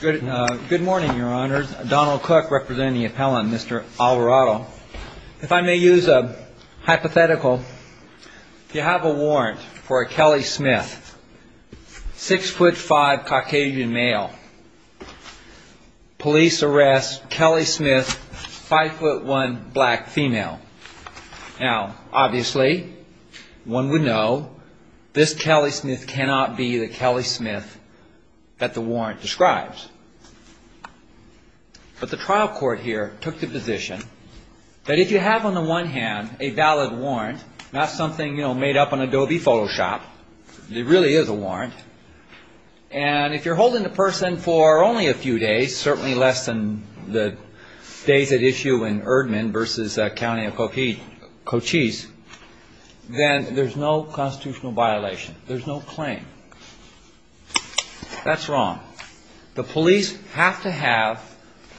Good morning, Your Honor. Donald Cook representing the appellant, Mr. Alvarado. If I may use a hypothetical, you have a warrant for a Kelly Smith, 6'5", Caucasian male. Police arrest Kelly Smith, 5'1", black female. Now, obviously, one would know this Kelly Smith cannot be the Kelly Smith that the warrant describes. But the trial court here took the position that if you have on the one hand a valid warrant, not something made up on Adobe Photoshop, it really is a warrant, and if you're holding the person for only a few days, certainly less than the days at issue in Erdman versus County of Cochise, then there's no constitutional violation. There's no claim. That's wrong. The police have to have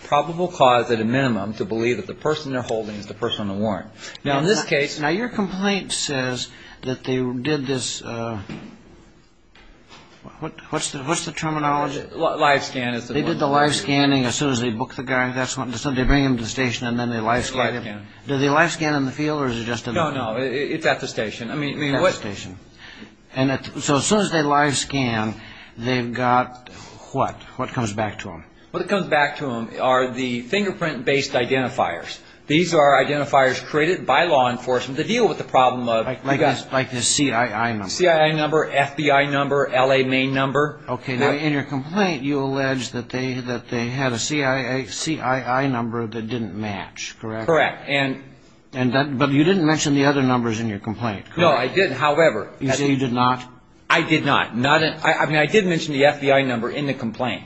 probable cause at a minimum to believe that the person they're holding is the person on the warrant. Now, in this case. Now, your complaint says that they did this. What's the terminology? Live scan. They did the live scanning as soon as they booked the guy. They bring him to the station and then they live scan him. Do they live scan in the field or is it just in the... No, no. It's at the station. At the station. So as soon as they live scan, they've got what? What comes back to them? What comes back to them are the fingerprint-based identifiers. These are identifiers created by law enforcement to deal with the problem of... Like the CII number. CII number, FBI number, L.A. Maine number. Okay. Now, in your complaint, you allege that they had a CII number that didn't match, correct? Correct. But you didn't mention the other numbers in your complaint, correct? No, I didn't. However... You say you did not? I did not. I mean, I did mention the FBI number in the complaint.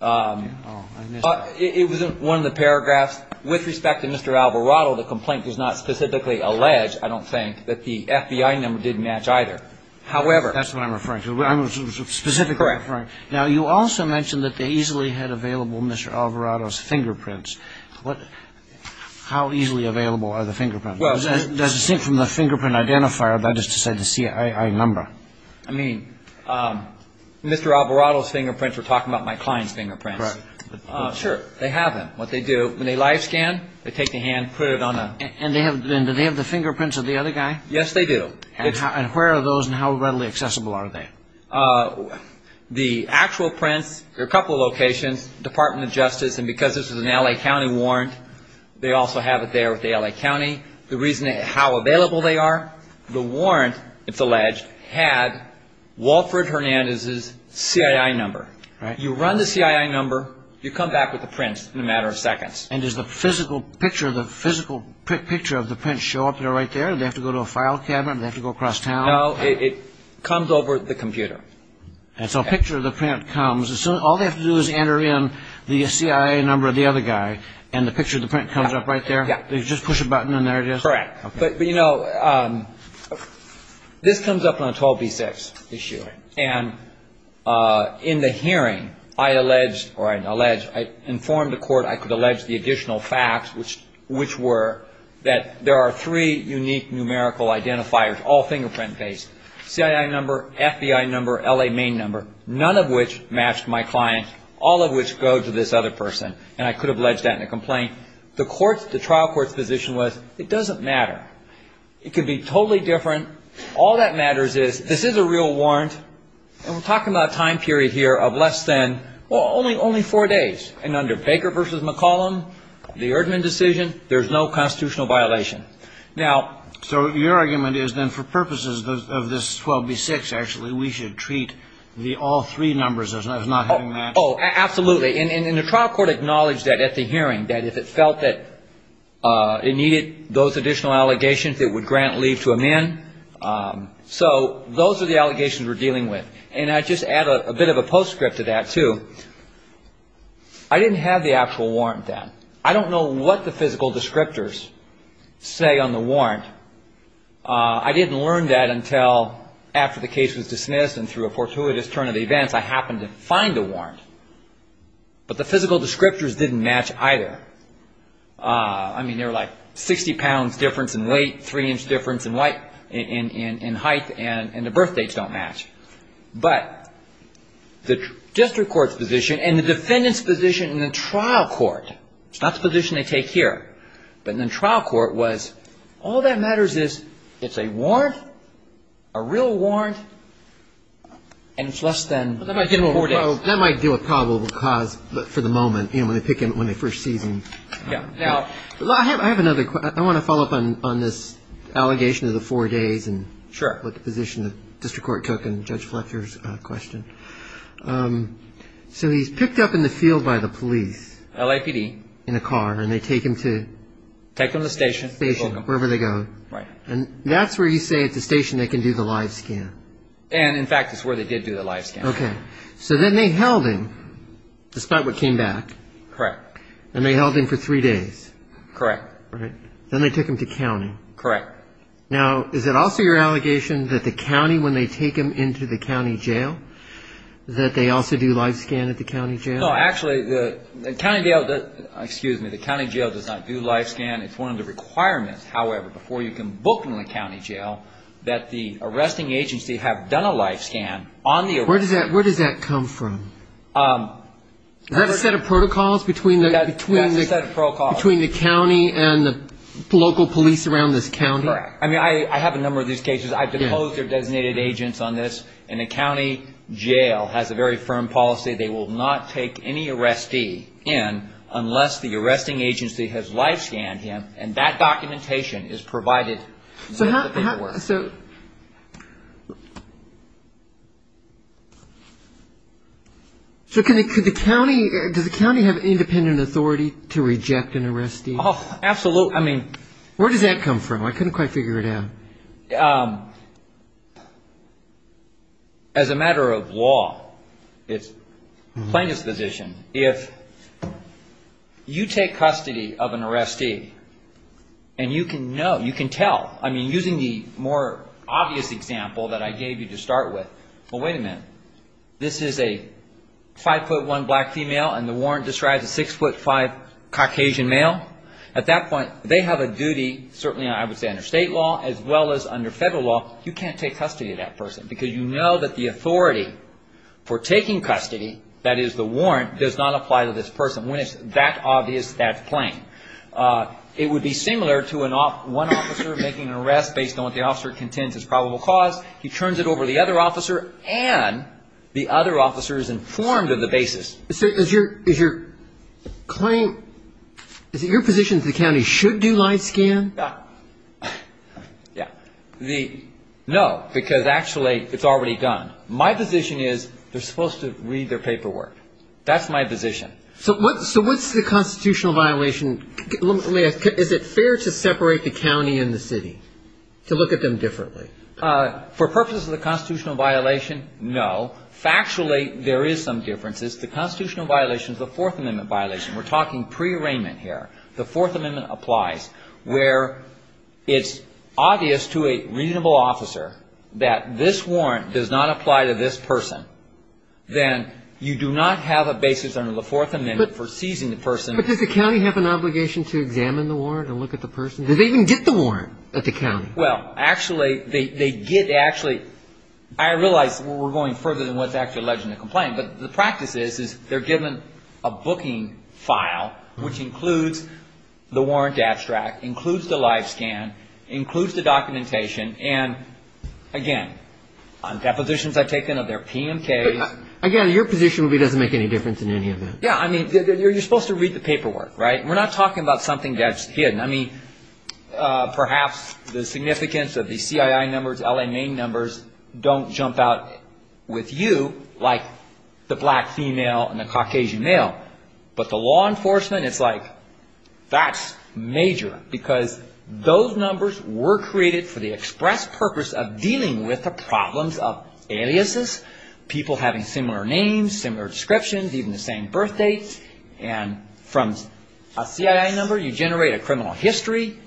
It was in one of the paragraphs. With respect to Mr. Alvarado, the complaint does not specifically allege, I don't think, that the FBI number didn't match either. However... That's what I'm referring to. I'm specifically referring... Correct. Now, you also mentioned that they easily had available Mr. Alvarado's fingerprints. How easily available are the fingerprints? Well... Does it seem from the fingerprint identifier that is to say the CII number? I mean, Mr. Alvarado's fingerprints, we're talking about my client's fingerprints. Correct. Sure, they have them. What they do, when they live scan, they take the hand, put it on a... And do they have the fingerprints of the other guy? Yes, they do. And where are those and how readily accessible are they? The actual prints, there are a couple of locations, Department of Justice, and because this is an L.A. County warrant, they also have it there with the L.A. County. The reason how available they are, the warrant, it's alleged, had Walford Hernandez's CII number. Right. You run the CII number, you come back with the prints in a matter of seconds. And does the physical picture of the prints show up there right there? Do they have to go to a file cabinet? Do they have to go across town? No, it comes over the computer. And so a picture of the print comes, so all they have to do is enter in the CII number of the other guy and the picture of the print comes up right there? Yeah. They just push a button and there it is? Correct. Okay. But, you know, this comes up on a 12B6 issue. Right. And in the hearing, I informed the court I could allege the additional facts, which were that there are three unique numerical identifiers, all fingerprint-based, CII number, FBI number, L.A. main number, none of which matched my client, all of which go to this other person, and I could have alleged that in a complaint. The trial court's position was it doesn't matter. It could be totally different. All that matters is this is a real warrant, and we're talking about a time period here of less than, well, only four days. And under Baker v. McCollum, the Erdman decision, there's no constitutional violation. Now, so your argument is then for purposes of this 12B6, actually, we should treat the all three numbers as not having matched? Oh, absolutely. And the trial court acknowledged that at the hearing, that if it felt that it needed those additional allegations, it would grant leave to amend. So those are the allegations we're dealing with. And I just add a bit of a postscript to that, too. I didn't have the actual warrant then. I don't know what the physical descriptors say on the warrant. I didn't learn that until after the case was dismissed and through a fortuitous turn of events I happened to find a warrant. But the physical descriptors didn't match either. I mean, they were like 60 pounds difference in weight, three inch difference in height, and the birth dates don't match. But the district court's position and the defendant's position in the trial court, it's not the position they take here, but in the trial court was all that matters is it's a warrant, a real warrant, and it's less than four days. So that might do a probable cause for the moment, you know, when they first seize him. Now, I have another question. I want to follow up on this allegation of the four days and what position the district court took in Judge Fletcher's question. So he's picked up in the field by the police. LAPD. In a car, and they take him to? Take him to the station. Station, wherever they go. Right. And that's where you say at the station they can do the live scan? And, in fact, it's where they did do the live scan. Okay. So then they held him, despite what came back. Correct. And they held him for three days. Correct. Right. Then they took him to county. Correct. Now, is it also your allegation that the county, when they take him into the county jail, that they also do live scan at the county jail? No. Actually, the county jail does not do live scan. It's one of the requirements, however, before you can book in the county jail, that the arresting agency have done a live scan. Where does that come from? Is that a set of protocols between the county and the local police around this county? Correct. I mean, I have a number of these cases. I've deposed their designated agents on this, and the county jail has a very firm policy. They will not take any arrestee in unless the arresting agency has live scanned him, and that documentation is provided. So can the county ‑‑ does the county have independent authority to reject an arrestee? Oh, absolutely. I mean, where does that come from? I couldn't quite figure it out. As a matter of law, it's plaintiff's position. If you take custody of an arrestee, and you can know, you can tell. I mean, using the more obvious example that I gave you to start with, well, wait a minute. This is a 5'1 black female, and the warrant describes a 6'5 Caucasian male. At that point, they have a duty, certainly I would say under state law as well as under federal law, you can't take custody of that person because you know that the authority for taking custody, that is the warrant, does not apply to this person. When it's that obvious, that's plain. It would be similar to one officer making an arrest based on what the officer contends is probable cause. He turns it over to the other officer, and the other officer is informed of the basis. So is your claim, is it your position that the county should do live scan? Yeah. No, because actually it's already done. My position is they're supposed to read their paperwork. That's my position. So what's the constitutional violation? Is it fair to separate the county and the city, to look at them differently? For purposes of the constitutional violation, no. Factually, there is some differences. The constitutional violation is a Fourth Amendment violation. We're talking pre-arraignment here. The Fourth Amendment applies where it's obvious to a reasonable officer that this warrant does not apply to this person. Then you do not have a basis under the Fourth Amendment for seizing the person. But does the county have an obligation to examine the warrant and look at the person? Do they even get the warrant at the county? Well, actually, they get actually ‑‑ I realize we're going further than what's actually alleged in the complaint, but the practice is they're given a booking file, which includes the warrant abstract, includes the live scan, includes the documentation, and, again, on depositions I've taken of their PMKs. Again, your position would be it doesn't make any difference in any event. Yeah. I mean, you're supposed to read the paperwork, right? We're not talking about something that's hidden. I mean, perhaps the significance of the CII numbers, LMA numbers don't jump out with you, like the black female and the Caucasian male. But the law enforcement, it's like, that's major, because those numbers were created for the express purpose of dealing with the problems of aliases, people having similar names, similar descriptions, even the same birth dates. And from a CII number, you generate a criminal history,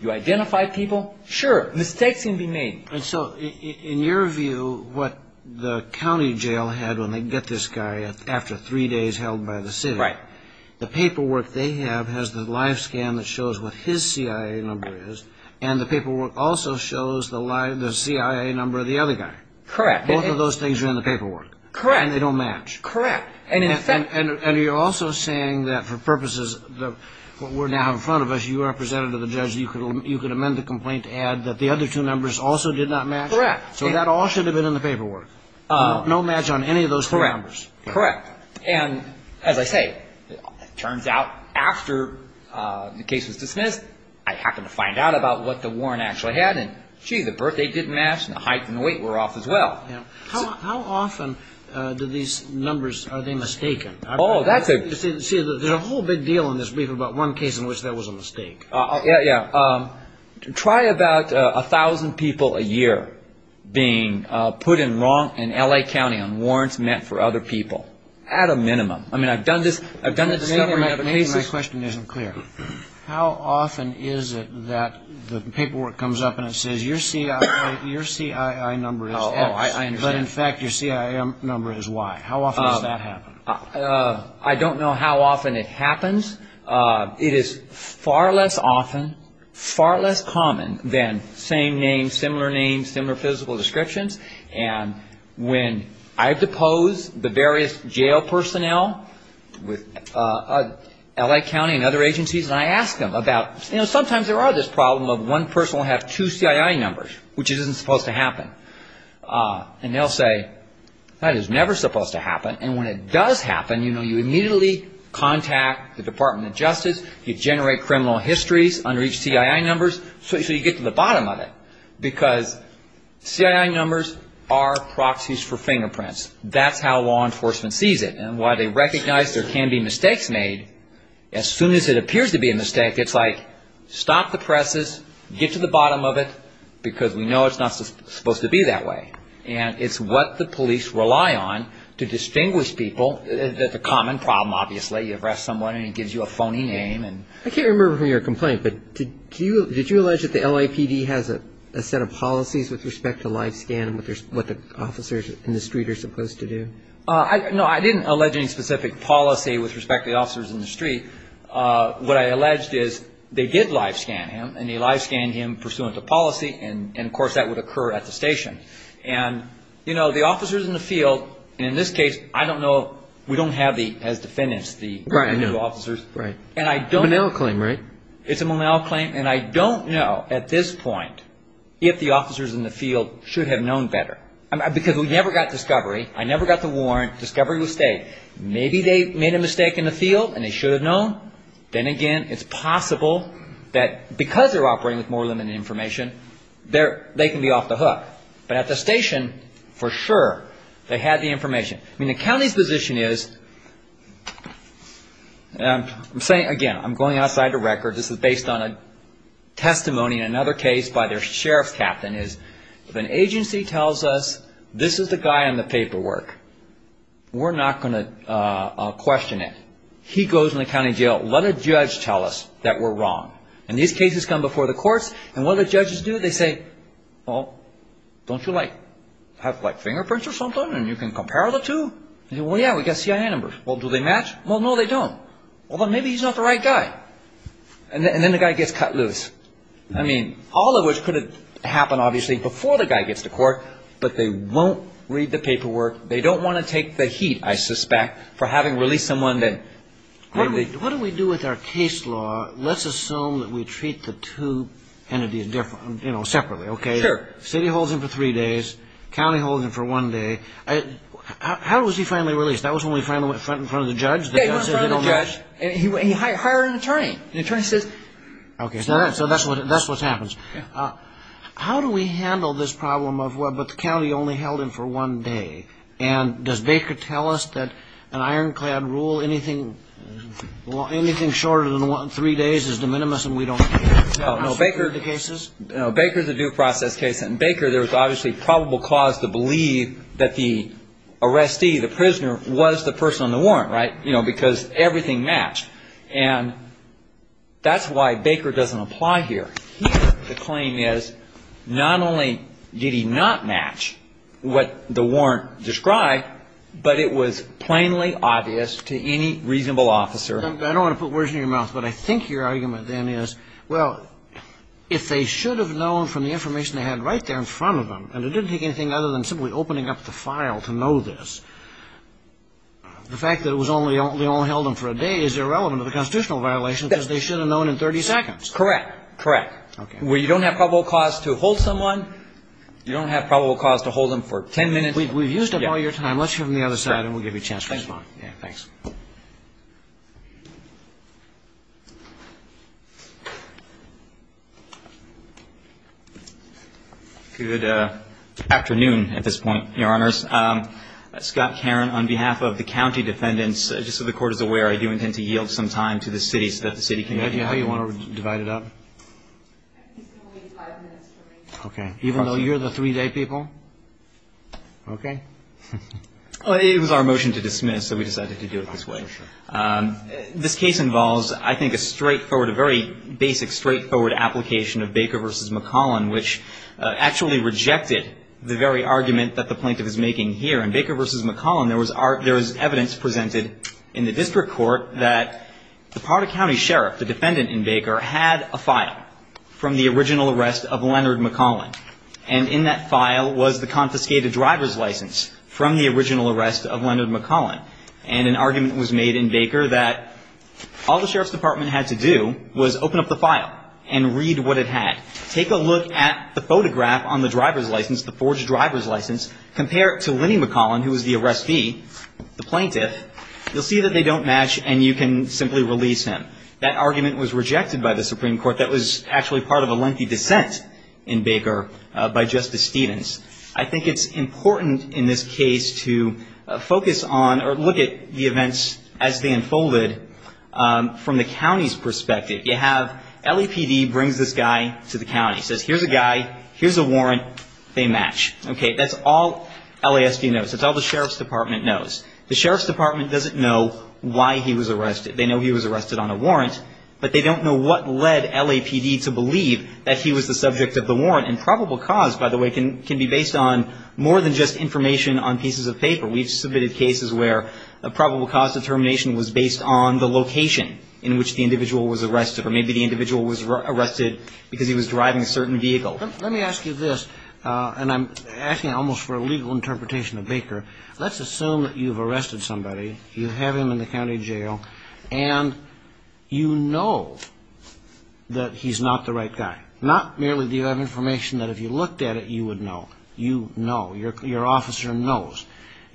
you identify people. Sure. Mistakes can be made. And so in your view, what the county jail had when they get this guy after three days held by the city, the paperwork they have has the live scan that shows what his CII number is, and the paperwork also shows the CII number of the other guy. Correct. Both of those things are in the paperwork. Correct. And they don't match. Correct. And you're also saying that for purposes of what we're now in front of us, you representative of the judge, you could amend the complaint to add that the other two numbers also did not match. Correct. So that all should have been in the paperwork. No match on any of those three numbers. Correct. And as I say, it turns out after the case was dismissed, I happened to find out about what the warrant actually had, and, gee, the birth date didn't match, and the height and the weight were off as well. How often do these numbers, are they mistaken? See, there's a whole big deal in this brief about one case in which there was a mistake. Yeah, yeah. Try about 1,000 people a year being put in wrong in L.A. County on warrants meant for other people at a minimum. I mean, I've done this discovery in other cases. Maybe my question isn't clear. How often is it that the paperwork comes up and it says, your CII number is X, but, in fact, your CII number is Y? How often does that happen? I don't know how often it happens. It is far less often, far less common than same name, similar name, similar physical descriptions. And when I've deposed the various jail personnel with L.A. County and other agencies, and I ask them about, you know, sometimes there are this problem of one person will have two CII numbers, which isn't supposed to happen. And they'll say, that is never supposed to happen. And when it does happen, you know, you immediately contact the Department of Justice. You generate criminal histories under each CII numbers. So you get to the bottom of it, because CII numbers are proxies for fingerprints. That's how law enforcement sees it. And while they recognize there can be mistakes made, as soon as it appears to be a mistake, it's like, stop the presses, get to the bottom of it, because we know it's not supposed to be that way. And it's what the police rely on to distinguish people. That's a common problem, obviously. You arrest someone and he gives you a phony name. I can't remember from your complaint, but did you allege that the LAPD has a set of policies with respect to live scan and what the officers in the street are supposed to do? No, I didn't allege any specific policy with respect to the officers in the street. What I alleged is they did live scan him, and they live scanned him pursuant to policy. And, of course, that would occur at the station. And, you know, the officers in the field, and in this case, I don't know, we don't have as defendants the new officers. And I don't know. It's a Monell claim, right? It's a Monell claim. And I don't know at this point if the officers in the field should have known better. Because we never got discovery. I never got the warrant. Discovery was stayed. Maybe they made a mistake in the field and they should have known. Then again, it's possible that because they're operating with more limited information, they can be off the hook. But at the station, for sure, they had the information. I mean, the county's position is, and I'm saying again, I'm going outside the record. This is based on a testimony in another case by their sheriff's captain. If an agency tells us this is the guy on the paperwork, we're not going to question it. He goes in the county jail. Let a judge tell us that we're wrong. And these cases come before the courts. And what do the judges do? They say, well, don't you, like, have, like, fingerprints or something, and you can compare the two? Well, yeah, we got CIA numbers. Well, do they match? Well, no, they don't. Well, then maybe he's not the right guy. And then the guy gets cut loose. I mean, all of which could have happened, obviously, before the guy gets to court. But they won't read the paperwork. They don't want to take the heat, I suspect, for having released someone that maybe- What do we do with our case law? Let's assume that we treat the two entities, you know, separately, okay? Sure. City holds him for three days. County holds him for one day. How was he finally released? That was when we finally went front in front of the judge? Yeah, he went in front of the judge, and he hired an attorney. And the attorney says- Okay, so that's what happens. How do we handle this problem of, well, but the county only held him for one day? And does Baker tell us that an ironclad rule, anything shorter than three days is de minimis and we don't- No, Baker- No, Baker is a due process case. And Baker, there was obviously probable cause to believe that the arrestee, the prisoner, was the person on the warrant, right? You know, because everything matched. And that's why Baker doesn't apply here. Here the claim is not only did he not match what the warrant described, but it was plainly obvious to any reasonable officer- I don't want to put words in your mouth, but I think your argument then is, well, if they should have known from the information they had right there in front of them, and it didn't take anything other than simply opening up the file to know this, the fact that it was only, they only held him for a day is irrelevant to the constitutional violation, because they should have known in 30 seconds. Correct. Correct. Okay. Where you don't have probable cause to hold someone, you don't have probable cause to hold them for 10 minutes. We've used up all your time. Let's hear from the other side, and we'll give you a chance to respond. Thanks. Good afternoon at this point, Your Honors. Scott Caron, on behalf of the county defendants, just so the Court is aware, I do intend to yield some time to the city so that the city can- Do you know how you want to divide it up? I think it's going to be five minutes for me. Okay. Even though you're the three-day people? It was our motion to dismiss, so we decided to do it that way. This case involves, I think, a straightforward, a very basic straightforward application of Baker v. McCollin, which actually rejected the very argument that the plaintiff is making here. In Baker v. McCollin, there was evidence presented in the district court that the part of county sheriff, the defendant in Baker, had a file from the original arrest of Leonard McCollin, and in that file was the confiscated driver's license from the original arrest of Leonard McCollin. And an argument was made in Baker that all the sheriff's department had to do was open up the file and read what it had. Take a look at the photograph on the driver's license, the forged driver's license, compare it to Lenny McCollin, who was the arrestee, the plaintiff. You'll see that they don't match, and you can simply release him. That argument was rejected by the Supreme Court. That was actually part of a lengthy dissent in Baker by Justice Stevens. I think it's important in this case to focus on or look at the events as they unfolded from the county's perspective. You have LAPD brings this guy to the county, says here's a guy, here's a warrant, they match. Okay, that's all LASD knows. That's all the sheriff's department knows. The sheriff's department doesn't know why he was arrested. They know he was arrested on a warrant, but they don't know what led LAPD to believe that he was the subject of the warrant. Probable cause, by the way, can be based on more than just information on pieces of paper. We've submitted cases where probable cause determination was based on the location in which the individual was arrested or maybe the individual was arrested because he was driving a certain vehicle. Let me ask you this, and I'm asking almost for a legal interpretation of Baker. Let's assume that you've arrested somebody, you have him in the county jail, and you know that he's not the right guy. Not merely do you have information that if you looked at it, you would know. You know, your officer knows,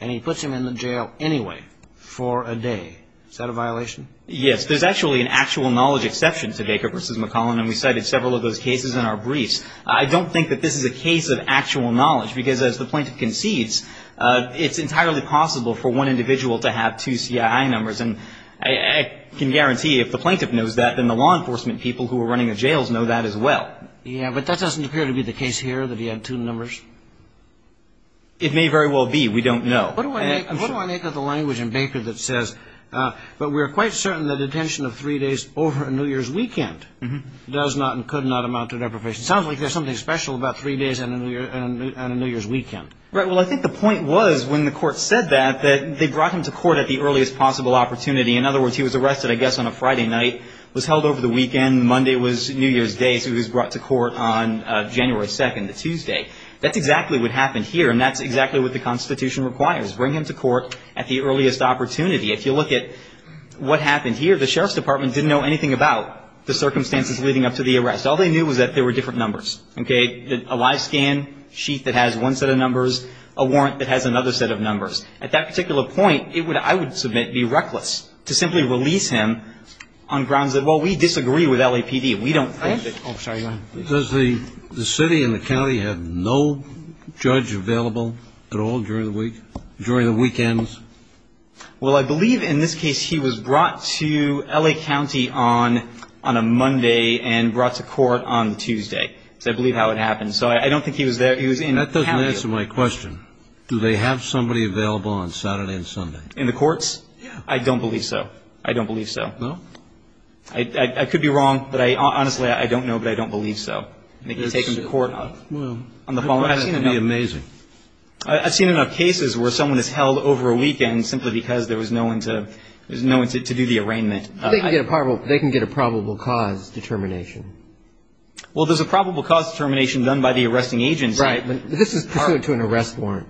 and he puts him in the jail anyway for a day. Is that a violation? Yes. There's actually an actual knowledge exception to Baker v. McClellan, and we cited several of those cases in our briefs. I don't think that this is a case of actual knowledge because as the plaintiff concedes, it's entirely possible for one individual to have two CII numbers, and I can guarantee if the plaintiff knows that, then the law enforcement people who are running the jails know that as well. Yeah, but that doesn't appear to be the case here that he had two numbers. It may very well be. We don't know. What do I make of the language in Baker that says, but we're quite certain that detention of three days over a New Year's weekend does not and could not amount to deprivation? It sounds like there's something special about three days and a New Year's weekend. Right. Well, I think the point was when the court said that, that they brought him to court at the earliest possible opportunity. In other words, he was arrested, I guess, on a Friday night, was held over the weekend. Monday was New Year's Day, so he was brought to court on January 2nd, the Tuesday. That's exactly what happened here, and that's exactly what the Constitution requires. Bring him to court at the earliest opportunity. If you look at what happened here, the Sheriff's Department didn't know anything about the circumstances leading up to the arrest. All they knew was that there were different numbers. Okay. A live scan sheet that has one set of numbers, a warrant that has another set of numbers. At that particular point, it would, I would submit, be reckless to simply release him on grounds that, well, we disagree with LAPD. We don't think that. Oh, sorry. Go ahead. Does the city and the county have no judge available at all during the week, during the weekends? Well, I believe in this case he was brought to LA County on a Monday and brought to court on Tuesday. So I believe how it happened. So I don't think he was there. That doesn't answer my question. Do they have somebody available on Saturday and Sunday? In the courts? Yeah. I don't believe so. I don't believe so. No? I could be wrong, but I honestly, I don't know, but I don't believe so. They can take him to court on the following. That would be amazing. I've seen enough cases where someone is held over a weekend simply because there was no one to do the arraignment. They can get a probable cause determination. Well, there's a probable cause determination done by the arresting agency. Right. This is pursuant to an arrest warrant.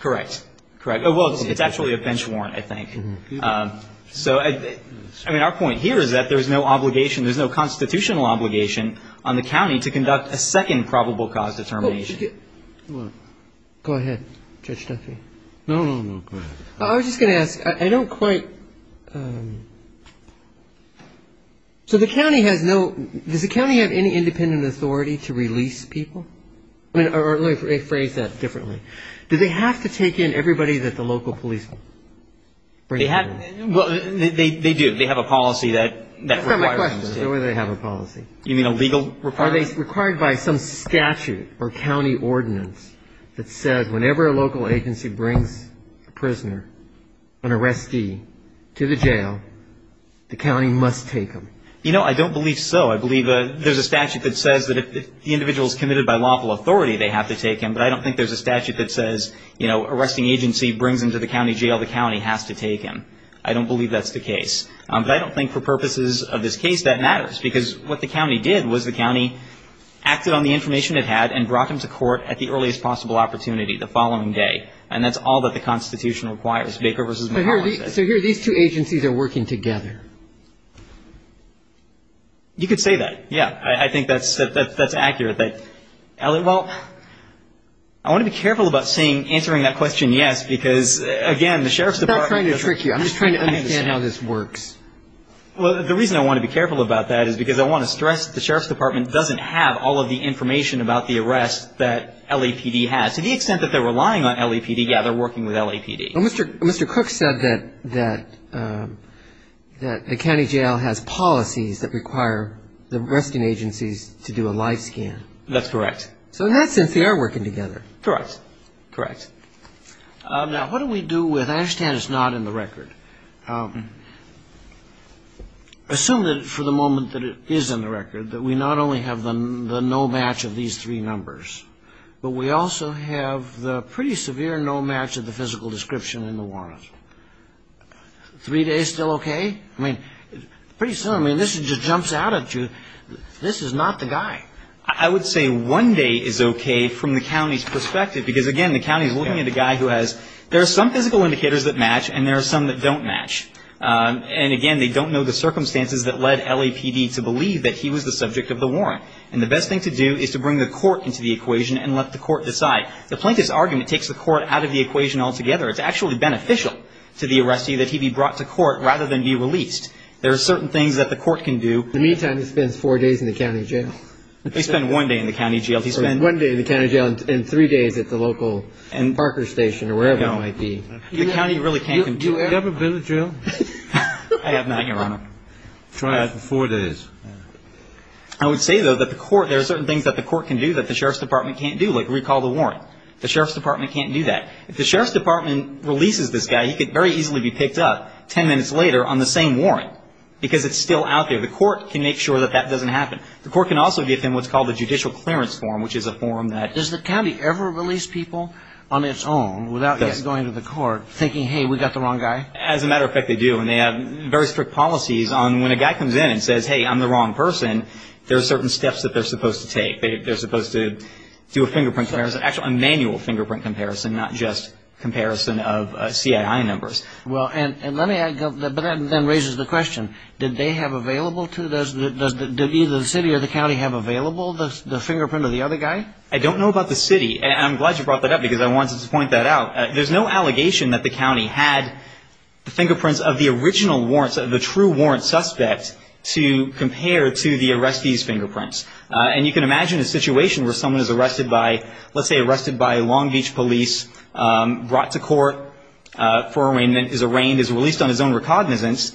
Correct. Correct. Well, it's actually a bench warrant, I think. So, I mean, our point here is that there's no obligation, there's no constitutional obligation on the county to conduct a second probable cause determination. Go ahead, Judge Duffy. No, no, no. Go ahead. I was just going to ask. I don't quite. So the county has no, does the county have any independent authority to release people? Or let me phrase that differently. Do they have to take in everybody that the local police bring in? They do. They have a policy that requires them to. That's not my question. What do they have a policy? You mean a legal requirement? Are they required by some statute or county ordinance that says whenever a local agency brings a prisoner, an arrestee, to the jail, the county must take them? You know, I don't believe so. I believe there's a statute that says that if the individual is committed by lawful authority, they have to take him. But I don't think there's a statute that says, you know, arresting agency brings him to the county jail, the county has to take him. I don't believe that's the case. But I don't think for purposes of this case that matters. Because what the county did was the county acted on the information it had and brought him to court at the earliest possible opportunity, the following day. And that's all that the Constitution requires, Baker v. Mahala says. So here, these two agencies are working together. You could say that, yeah. I think that's accurate. Well, I want to be careful about saying, answering that question yes, because, again, the Sheriff's Department doesn't I'm not trying to trick you. I'm just trying to understand how this works. Well, the reason I want to be careful about that is because I want to stress, the Sheriff's Department doesn't have all of the information about the arrest that LAPD has. To the extent that they're relying on LAPD, yeah, they're working with LAPD. Mr. Cook said that a county jail has policies that require the arresting agencies to do a live scan. That's correct. So in that sense, they are working together. Correct. Correct. Now, what do we do with, I understand it's not in the record. Assume that for the moment that it is in the record, that we not only have the no match of these three numbers, but we also have the pretty severe no match of the physical description in the warrant. Three days still okay? I mean, pretty soon, I mean, this just jumps out at you. This is not the guy. I would say one day is okay from the county's perspective because, again, the county is looking at a guy who has, there are some physical indicators that match, and there are some that don't match. And, again, they don't know the circumstances that led LAPD to believe that he was the subject of the warrant. And the best thing to do is to bring the court into the equation and let the court decide. The plaintiff's argument takes the court out of the equation altogether. It's actually beneficial to the arrestee that he be brought to court rather than be released. There are certain things that the court can do. In the meantime, he spends four days in the county jail. He spent one day in the county jail. He spent one day in the county jail and three days at the local Parker Station or wherever it might be. The county really can't control him. Have you ever been to jail? I have not, Your Honor. I've had it for four days. I would say, though, that the court, there are certain things that the court can do that the sheriff's department can't do. Like recall the warrant. The sheriff's department can't do that. If the sheriff's department releases this guy, he could very easily be picked up 10 minutes later on the same warrant because it's still out there. The court can make sure that that doesn't happen. The court can also give him what's called a judicial clearance form, which is a form that ---- Does the county ever release people on its own without going to the court thinking, hey, we got the wrong guy? As a matter of fact, they do. And they have very strict policies on when a guy comes in and says, hey, I'm the wrong person, there are certain steps that they're supposed to take. They're supposed to do a fingerprint comparison, actually a manual fingerprint comparison, not just comparison of CII numbers. Well, and let me add, but that then raises the question, did they have available to, did either the city or the county have available the fingerprint of the other guy? I don't know about the city. And I'm glad you brought that up because I wanted to point that out. There's no allegation that the county had the fingerprints of the original warrants, of the true warrant suspect to compare to the arrestee's fingerprints. And you can imagine a situation where someone is arrested by, let's say, Long Beach police, brought to court for arraignment, is arraigned, is released on his own recognizance.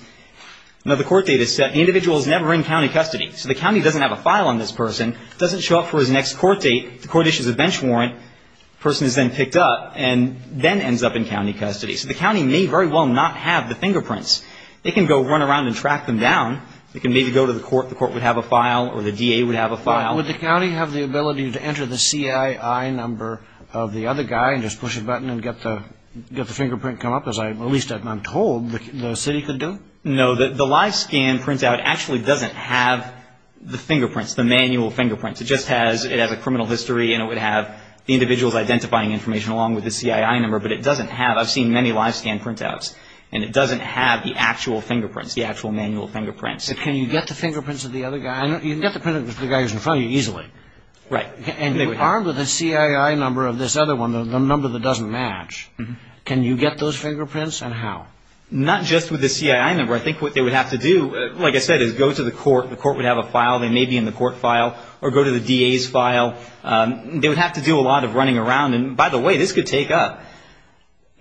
Now, the court date is set. The individual is never in county custody. So the county doesn't have a file on this person, doesn't show up for his next court date. The court issues a bench warrant. The person is then picked up and then ends up in county custody. So the county may very well not have the fingerprints. They can go run around and track them down. They can maybe go to the court. The court would have a file or the DA would have a file. Would the county have the ability to enter the CII number of the other guy and just push a button and get the fingerprint come up, at least I'm told the city could do? No. The live scan printout actually doesn't have the fingerprints, the manual fingerprints. It just has a criminal history and it would have the individual's identifying information along with the CII number. But it doesn't have, I've seen many live scan printouts, and it doesn't have the actual fingerprints, the actual manual fingerprints. But can you get the fingerprints of the other guy? You can get the fingerprints of the guy who's in front of you easily. Right. Armed with the CII number of this other one, the number that doesn't match, can you get those fingerprints and how? Not just with the CII number. I think what they would have to do, like I said, is go to the court. The court would have a file. They may be in the court file or go to the DA's file. They would have to do a lot of running around. And by the way, this could take up,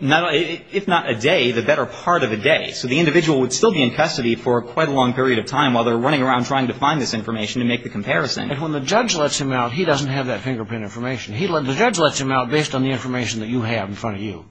if not a day, the better part of a day. Right. So the individual would still be in custody for quite a long period of time while they're running around trying to find this information and make the comparison. And when the judge lets him out, he doesn't have that fingerprint information. The judge lets him out based on the information that you have in front of you.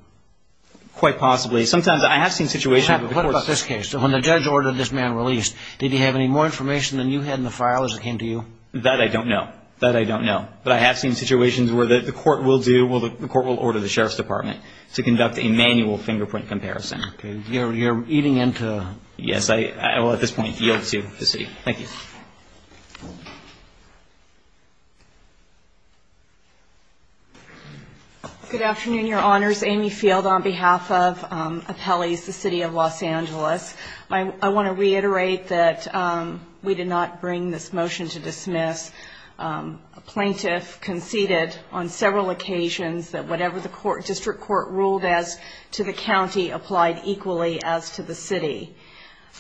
Quite possibly. Sometimes I have seen situations. What about this case? When the judge ordered this man released, did he have any more information than you had in the file as it came to you? That I don't know. That I don't know. But I have seen situations where the court will do, the court will order the Sheriff's Department to conduct a manual fingerprint comparison. Okay. You're eating into. Yes. I will at this point yield to the city. Thank you. Good afternoon, Your Honors. Amy Field on behalf of Appellees, the City of Los Angeles. I want to reiterate that we did not bring this motion to dismiss. A plaintiff conceded on several occasions that whatever the district court ruled as to the county applied equally as to the city.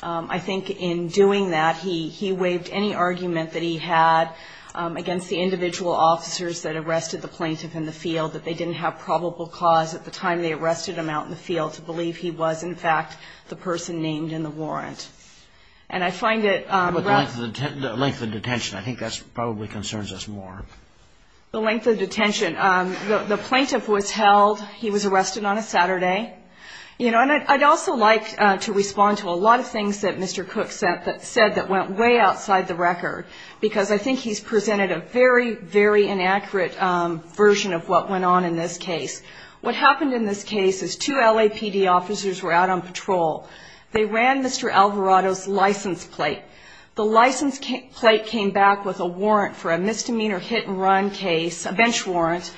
I think in doing that, he waived any argument that he had against the individual officers that arrested the plaintiff in the field, that they didn't have probable cause at the time they arrested him out in the field to believe he was, in fact, the person named in the warrant. And I find it... The length of detention. I think that probably concerns us more. The length of detention. The plaintiff was held. He was arrested on a Saturday. You know, and I'd also like to respond to a lot of things that Mr. Cook said that went way outside the record, because I think he's presented a very, very inaccurate version of what went on in this case. What happened in this case is two LAPD officers were out on patrol. They ran Mr. Alvarado's license plate. The license plate came back with a warrant for a misdemeanor hit-and-run case, a bench warrant,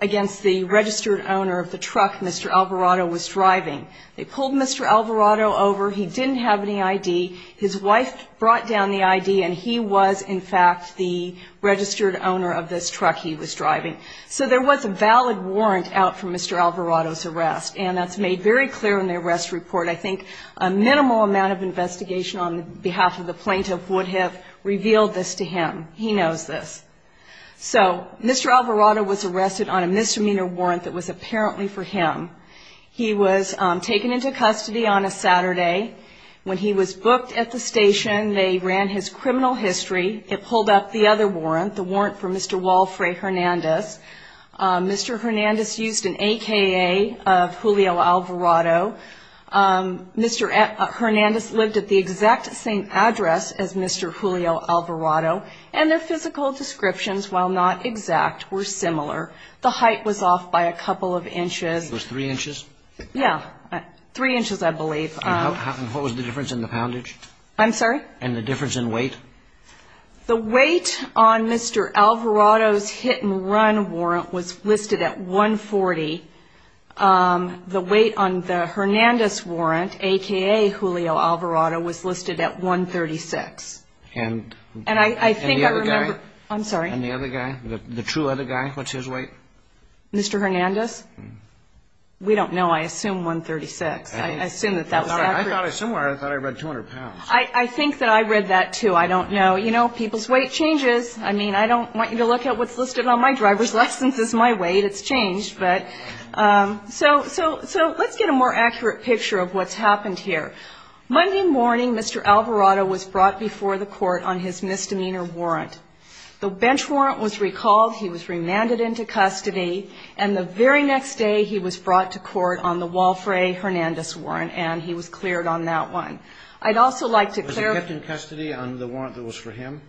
against the registered owner of the truck Mr. Alvarado was driving. They pulled Mr. Alvarado over. He didn't have any ID. His wife brought down the ID, and he was, in fact, the registered owner of this truck he was driving. So there was a valid warrant out for Mr. Alvarado's arrest, and that's made very clear in the arrest report. I think a minimal amount of investigation on behalf of the plaintiff would have revealed this to him. He knows this. So Mr. Alvarado was arrested on a misdemeanor warrant that was apparently for him. He was taken into custody on a Saturday. When he was booked at the station, they ran his criminal history. It pulled up the other warrant, the warrant for Mr. Walfre Hernandez. Mr. Hernandez used an AKA of Julio Alvarado. Mr. Hernandez lived at the exact same address as Mr. Julio Alvarado, and their physical descriptions, while not exact, were similar. The height was off by a couple of inches. It was three inches? Yeah, three inches, I believe. And what was the difference in the poundage? I'm sorry? And the difference in weight? The weight on Mr. Alvarado's hit-and-run warrant was listed at 140. The weight on the Hernandez warrant, AKA Julio Alvarado, was listed at 136. And the other guy? I'm sorry? And the other guy, the true other guy, what's his weight? Mr. Hernandez? We don't know. I assume 136. I assume that that was accurate. I thought I read 200 pounds. I think that I read that, too. I don't know. You know, people's weight changes. I mean, I don't want you to look at what's listed on my driver's license is my weight. It's changed. So let's get a more accurate picture of what's happened here. Monday morning, Mr. Alvarado was brought before the court on his misdemeanor warrant. The bench warrant was recalled. He was remanded into custody. And the very next day, he was brought to court on the Walfre Hernandez warrant, and he was cleared on that one. I'd also like to clarify. Was he kept in custody on the warrant that was for him?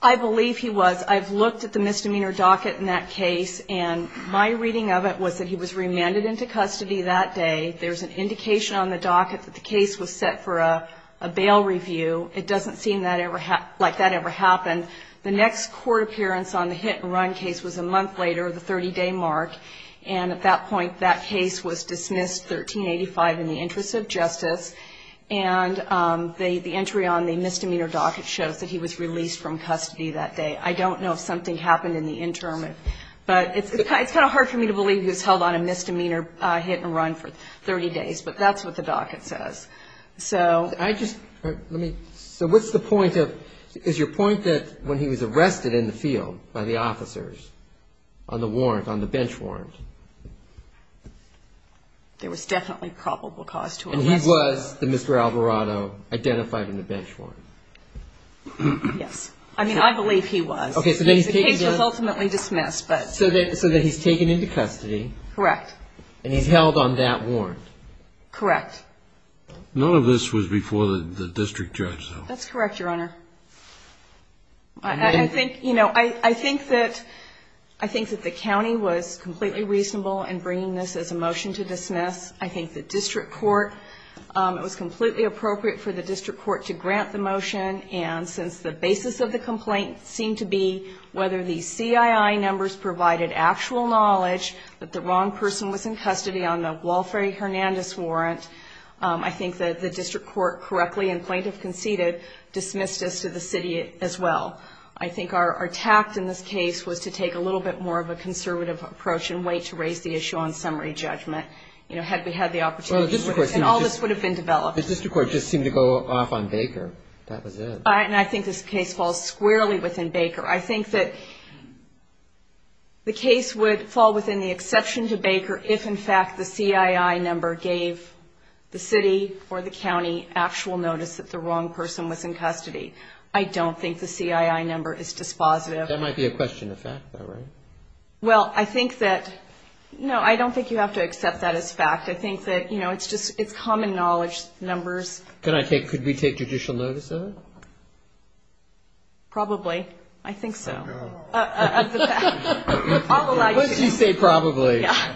I believe he was. I've looked at the misdemeanor docket in that case, and my reading of it was that he was remanded into custody that day. There's an indication on the docket that the case was set for a bail review. It doesn't seem like that ever happened. The next court appearance on the hit-and-run case was a month later, the 30-day mark. And at that point, that case was dismissed, 1385, in the interest of justice. And the entry on the misdemeanor docket shows that he was released from custody that day. I don't know if something happened in the interim. But it's kind of hard for me to believe he was held on a misdemeanor hit-and-run for 30 days. But that's what the docket says. I just, let me, so what's the point of, is your point that when he was arrested in the field by the officers on the warrant, on the bench warrant? There was definitely probable cause to arrest him. And he was the Mr. Alvarado identified in the bench warrant? Yes. I mean, I believe he was. Okay, so then he's taken down. The case was ultimately dismissed, but. Correct. And he's held on that warrant. Correct. None of this was before the district judge, though. That's correct, Your Honor. I think, you know, I think that the county was completely reasonable in bringing this as a motion to dismiss. I think the district court, it was completely appropriate for the district court to grant the motion. And since the basis of the complaint seemed to be whether the CII numbers provided actual knowledge that the wrong person was in custody on the Walfrey Hernandez warrant, I think that the district court correctly and plaintiff conceded dismissed us to the city as well. I think our tact in this case was to take a little bit more of a conservative approach and wait to raise the issue on summary judgment, you know, had we had the opportunity. And all this would have been developed. The district court just seemed to go off on Baker. That was it. And I think this case falls squarely within Baker. I think that the case would fall within the exception to Baker if, in fact, the CII number gave the city or the county actual notice that the wrong person was in custody. I don't think the CII number is dispositive. That might be a question of fact, though, right? Well, I think that no, I don't think you have to accept that as fact. I think that, you know, it's just common knowledge numbers. Could we take judicial notice of it? Probably. I think so. I'll allow you to. Let's just say probably. Yeah.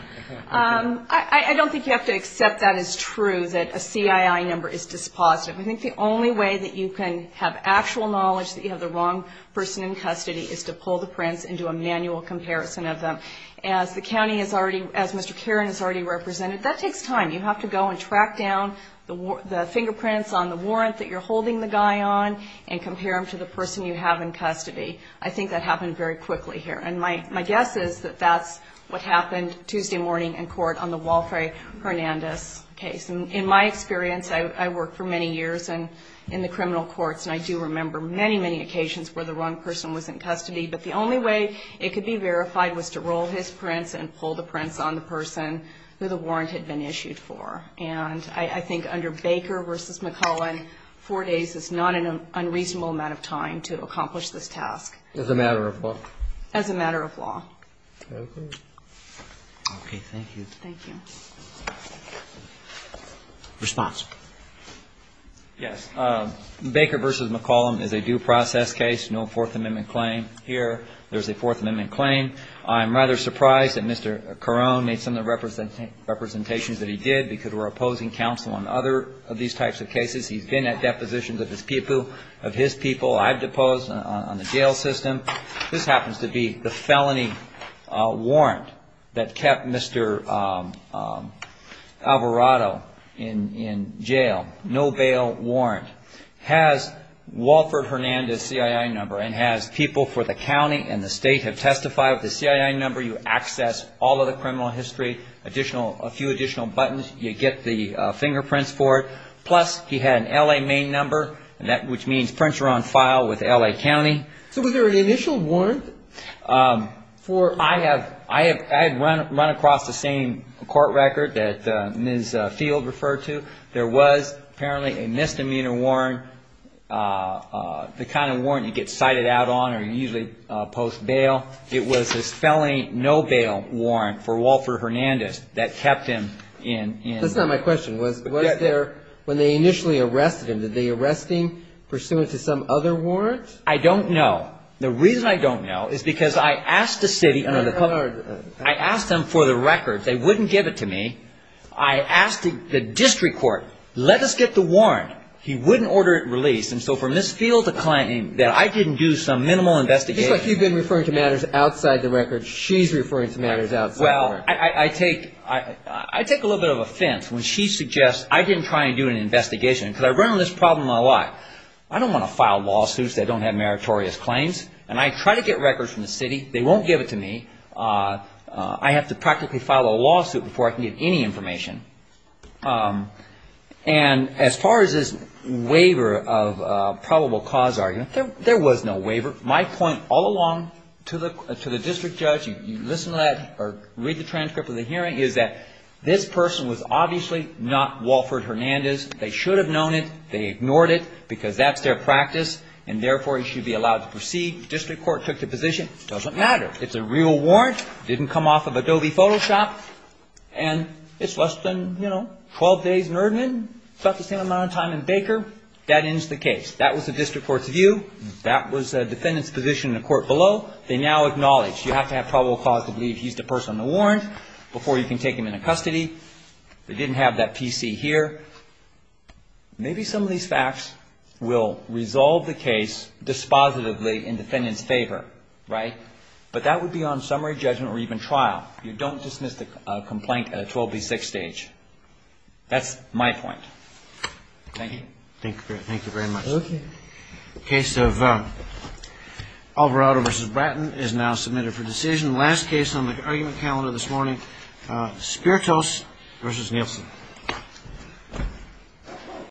I don't think you have to accept that as true, that a CII number is dispositive. I think the only way that you can have actual knowledge that you have the wrong person in custody is to pull the prints and do a manual comparison of them. As the county has already, as Mr. Caron has already represented, that takes time. You have to go and track down the fingerprints on the warrant that you're holding the guy on and compare them to the person you have in custody. I think that happened very quickly here. And my guess is that that's what happened Tuesday morning in court on the Walfre Hernandez case. In my experience, I worked for many years in the criminal courts, and I do remember many, many occasions where the wrong person was in custody, but the only way it could be verified was to roll his prints and pull the prints on the person who the warrant had been issued for. And I think under Baker v. McCollum, four days is not an unreasonable amount of time to accomplish this task. As a matter of law? As a matter of law. Okay. Okay, thank you. Thank you. Response. Yes. Baker v. McCollum is a due process case, no Fourth Amendment claim here. There's a Fourth Amendment claim. I'm rather surprised that Mr. Carone made some of the representations that he did because we're opposing counsel on other of these types of cases. He's been at depositions of his people. I've deposed on the jail system. This happens to be the felony warrant that kept Mr. Alvarado in jail, no bail warrant. has Walford Hernandez' CII number and has people for the county and the state have testified with the CII number. You access all of the criminal history, a few additional buttons. You get the fingerprints for it. Plus, he had an L.A. main number, which means prints are on file with L.A. County. So was there an initial warrant? I had run across the same court record that Ms. Field referred to. There was apparently a misdemeanor warrant, the kind of warrant you get cited out on or usually post bail. It was his felony no bail warrant for Walford Hernandez that kept him in. That's not my question. Was there, when they initially arrested him, did they arrest him pursuant to some other warrant? I don't know. The reason I don't know is because I asked the city, I asked them for the record. They wouldn't give it to me. I asked the district court, let us get the warrant. He wouldn't order it released. And so from Ms. Field to client that I didn't do some minimal investigation. It's like you've been referring to matters outside the record. She's referring to matters outside the record. Well, I take a little bit of offense when she suggests I didn't try and do an investigation because I run on this problem a lot. I don't want to file lawsuits that don't have meritorious claims. And I try to get records from the city. They won't give it to me. I have to practically file a lawsuit before I can get any information. And as far as this waiver of probable cause argument, there was no waiver. My point all along to the district judge, you listen to that or read the transcript of the hearing, is that this person was obviously not Walford Hernandez. They should have known it. They ignored it because that's their practice and therefore he should be allowed to proceed. District court took the position. It doesn't matter. It's a real warrant. It didn't come off of Adobe Photoshop. And it's less than, you know, 12 days in Erdman. It's about the same amount of time in Baker. That ends the case. That was the district court's view. That was the defendant's position in the court below. They now acknowledge you have to have probable cause to believe he's the person on the warrant before you can take him into custody. They didn't have that PC here. Maybe some of these facts will resolve the case dispositively in the defendant's favor, right? But that would be on summary judgment or even trial. You don't dismiss the complaint at a 12D6 stage. That's my point. Thank you. Thank you. Thank you very much. Okay. Case of Alvarado v. Bratton is now submitted for decision. Last case on the argument calendar this morning, Spiritos v. Nielsen.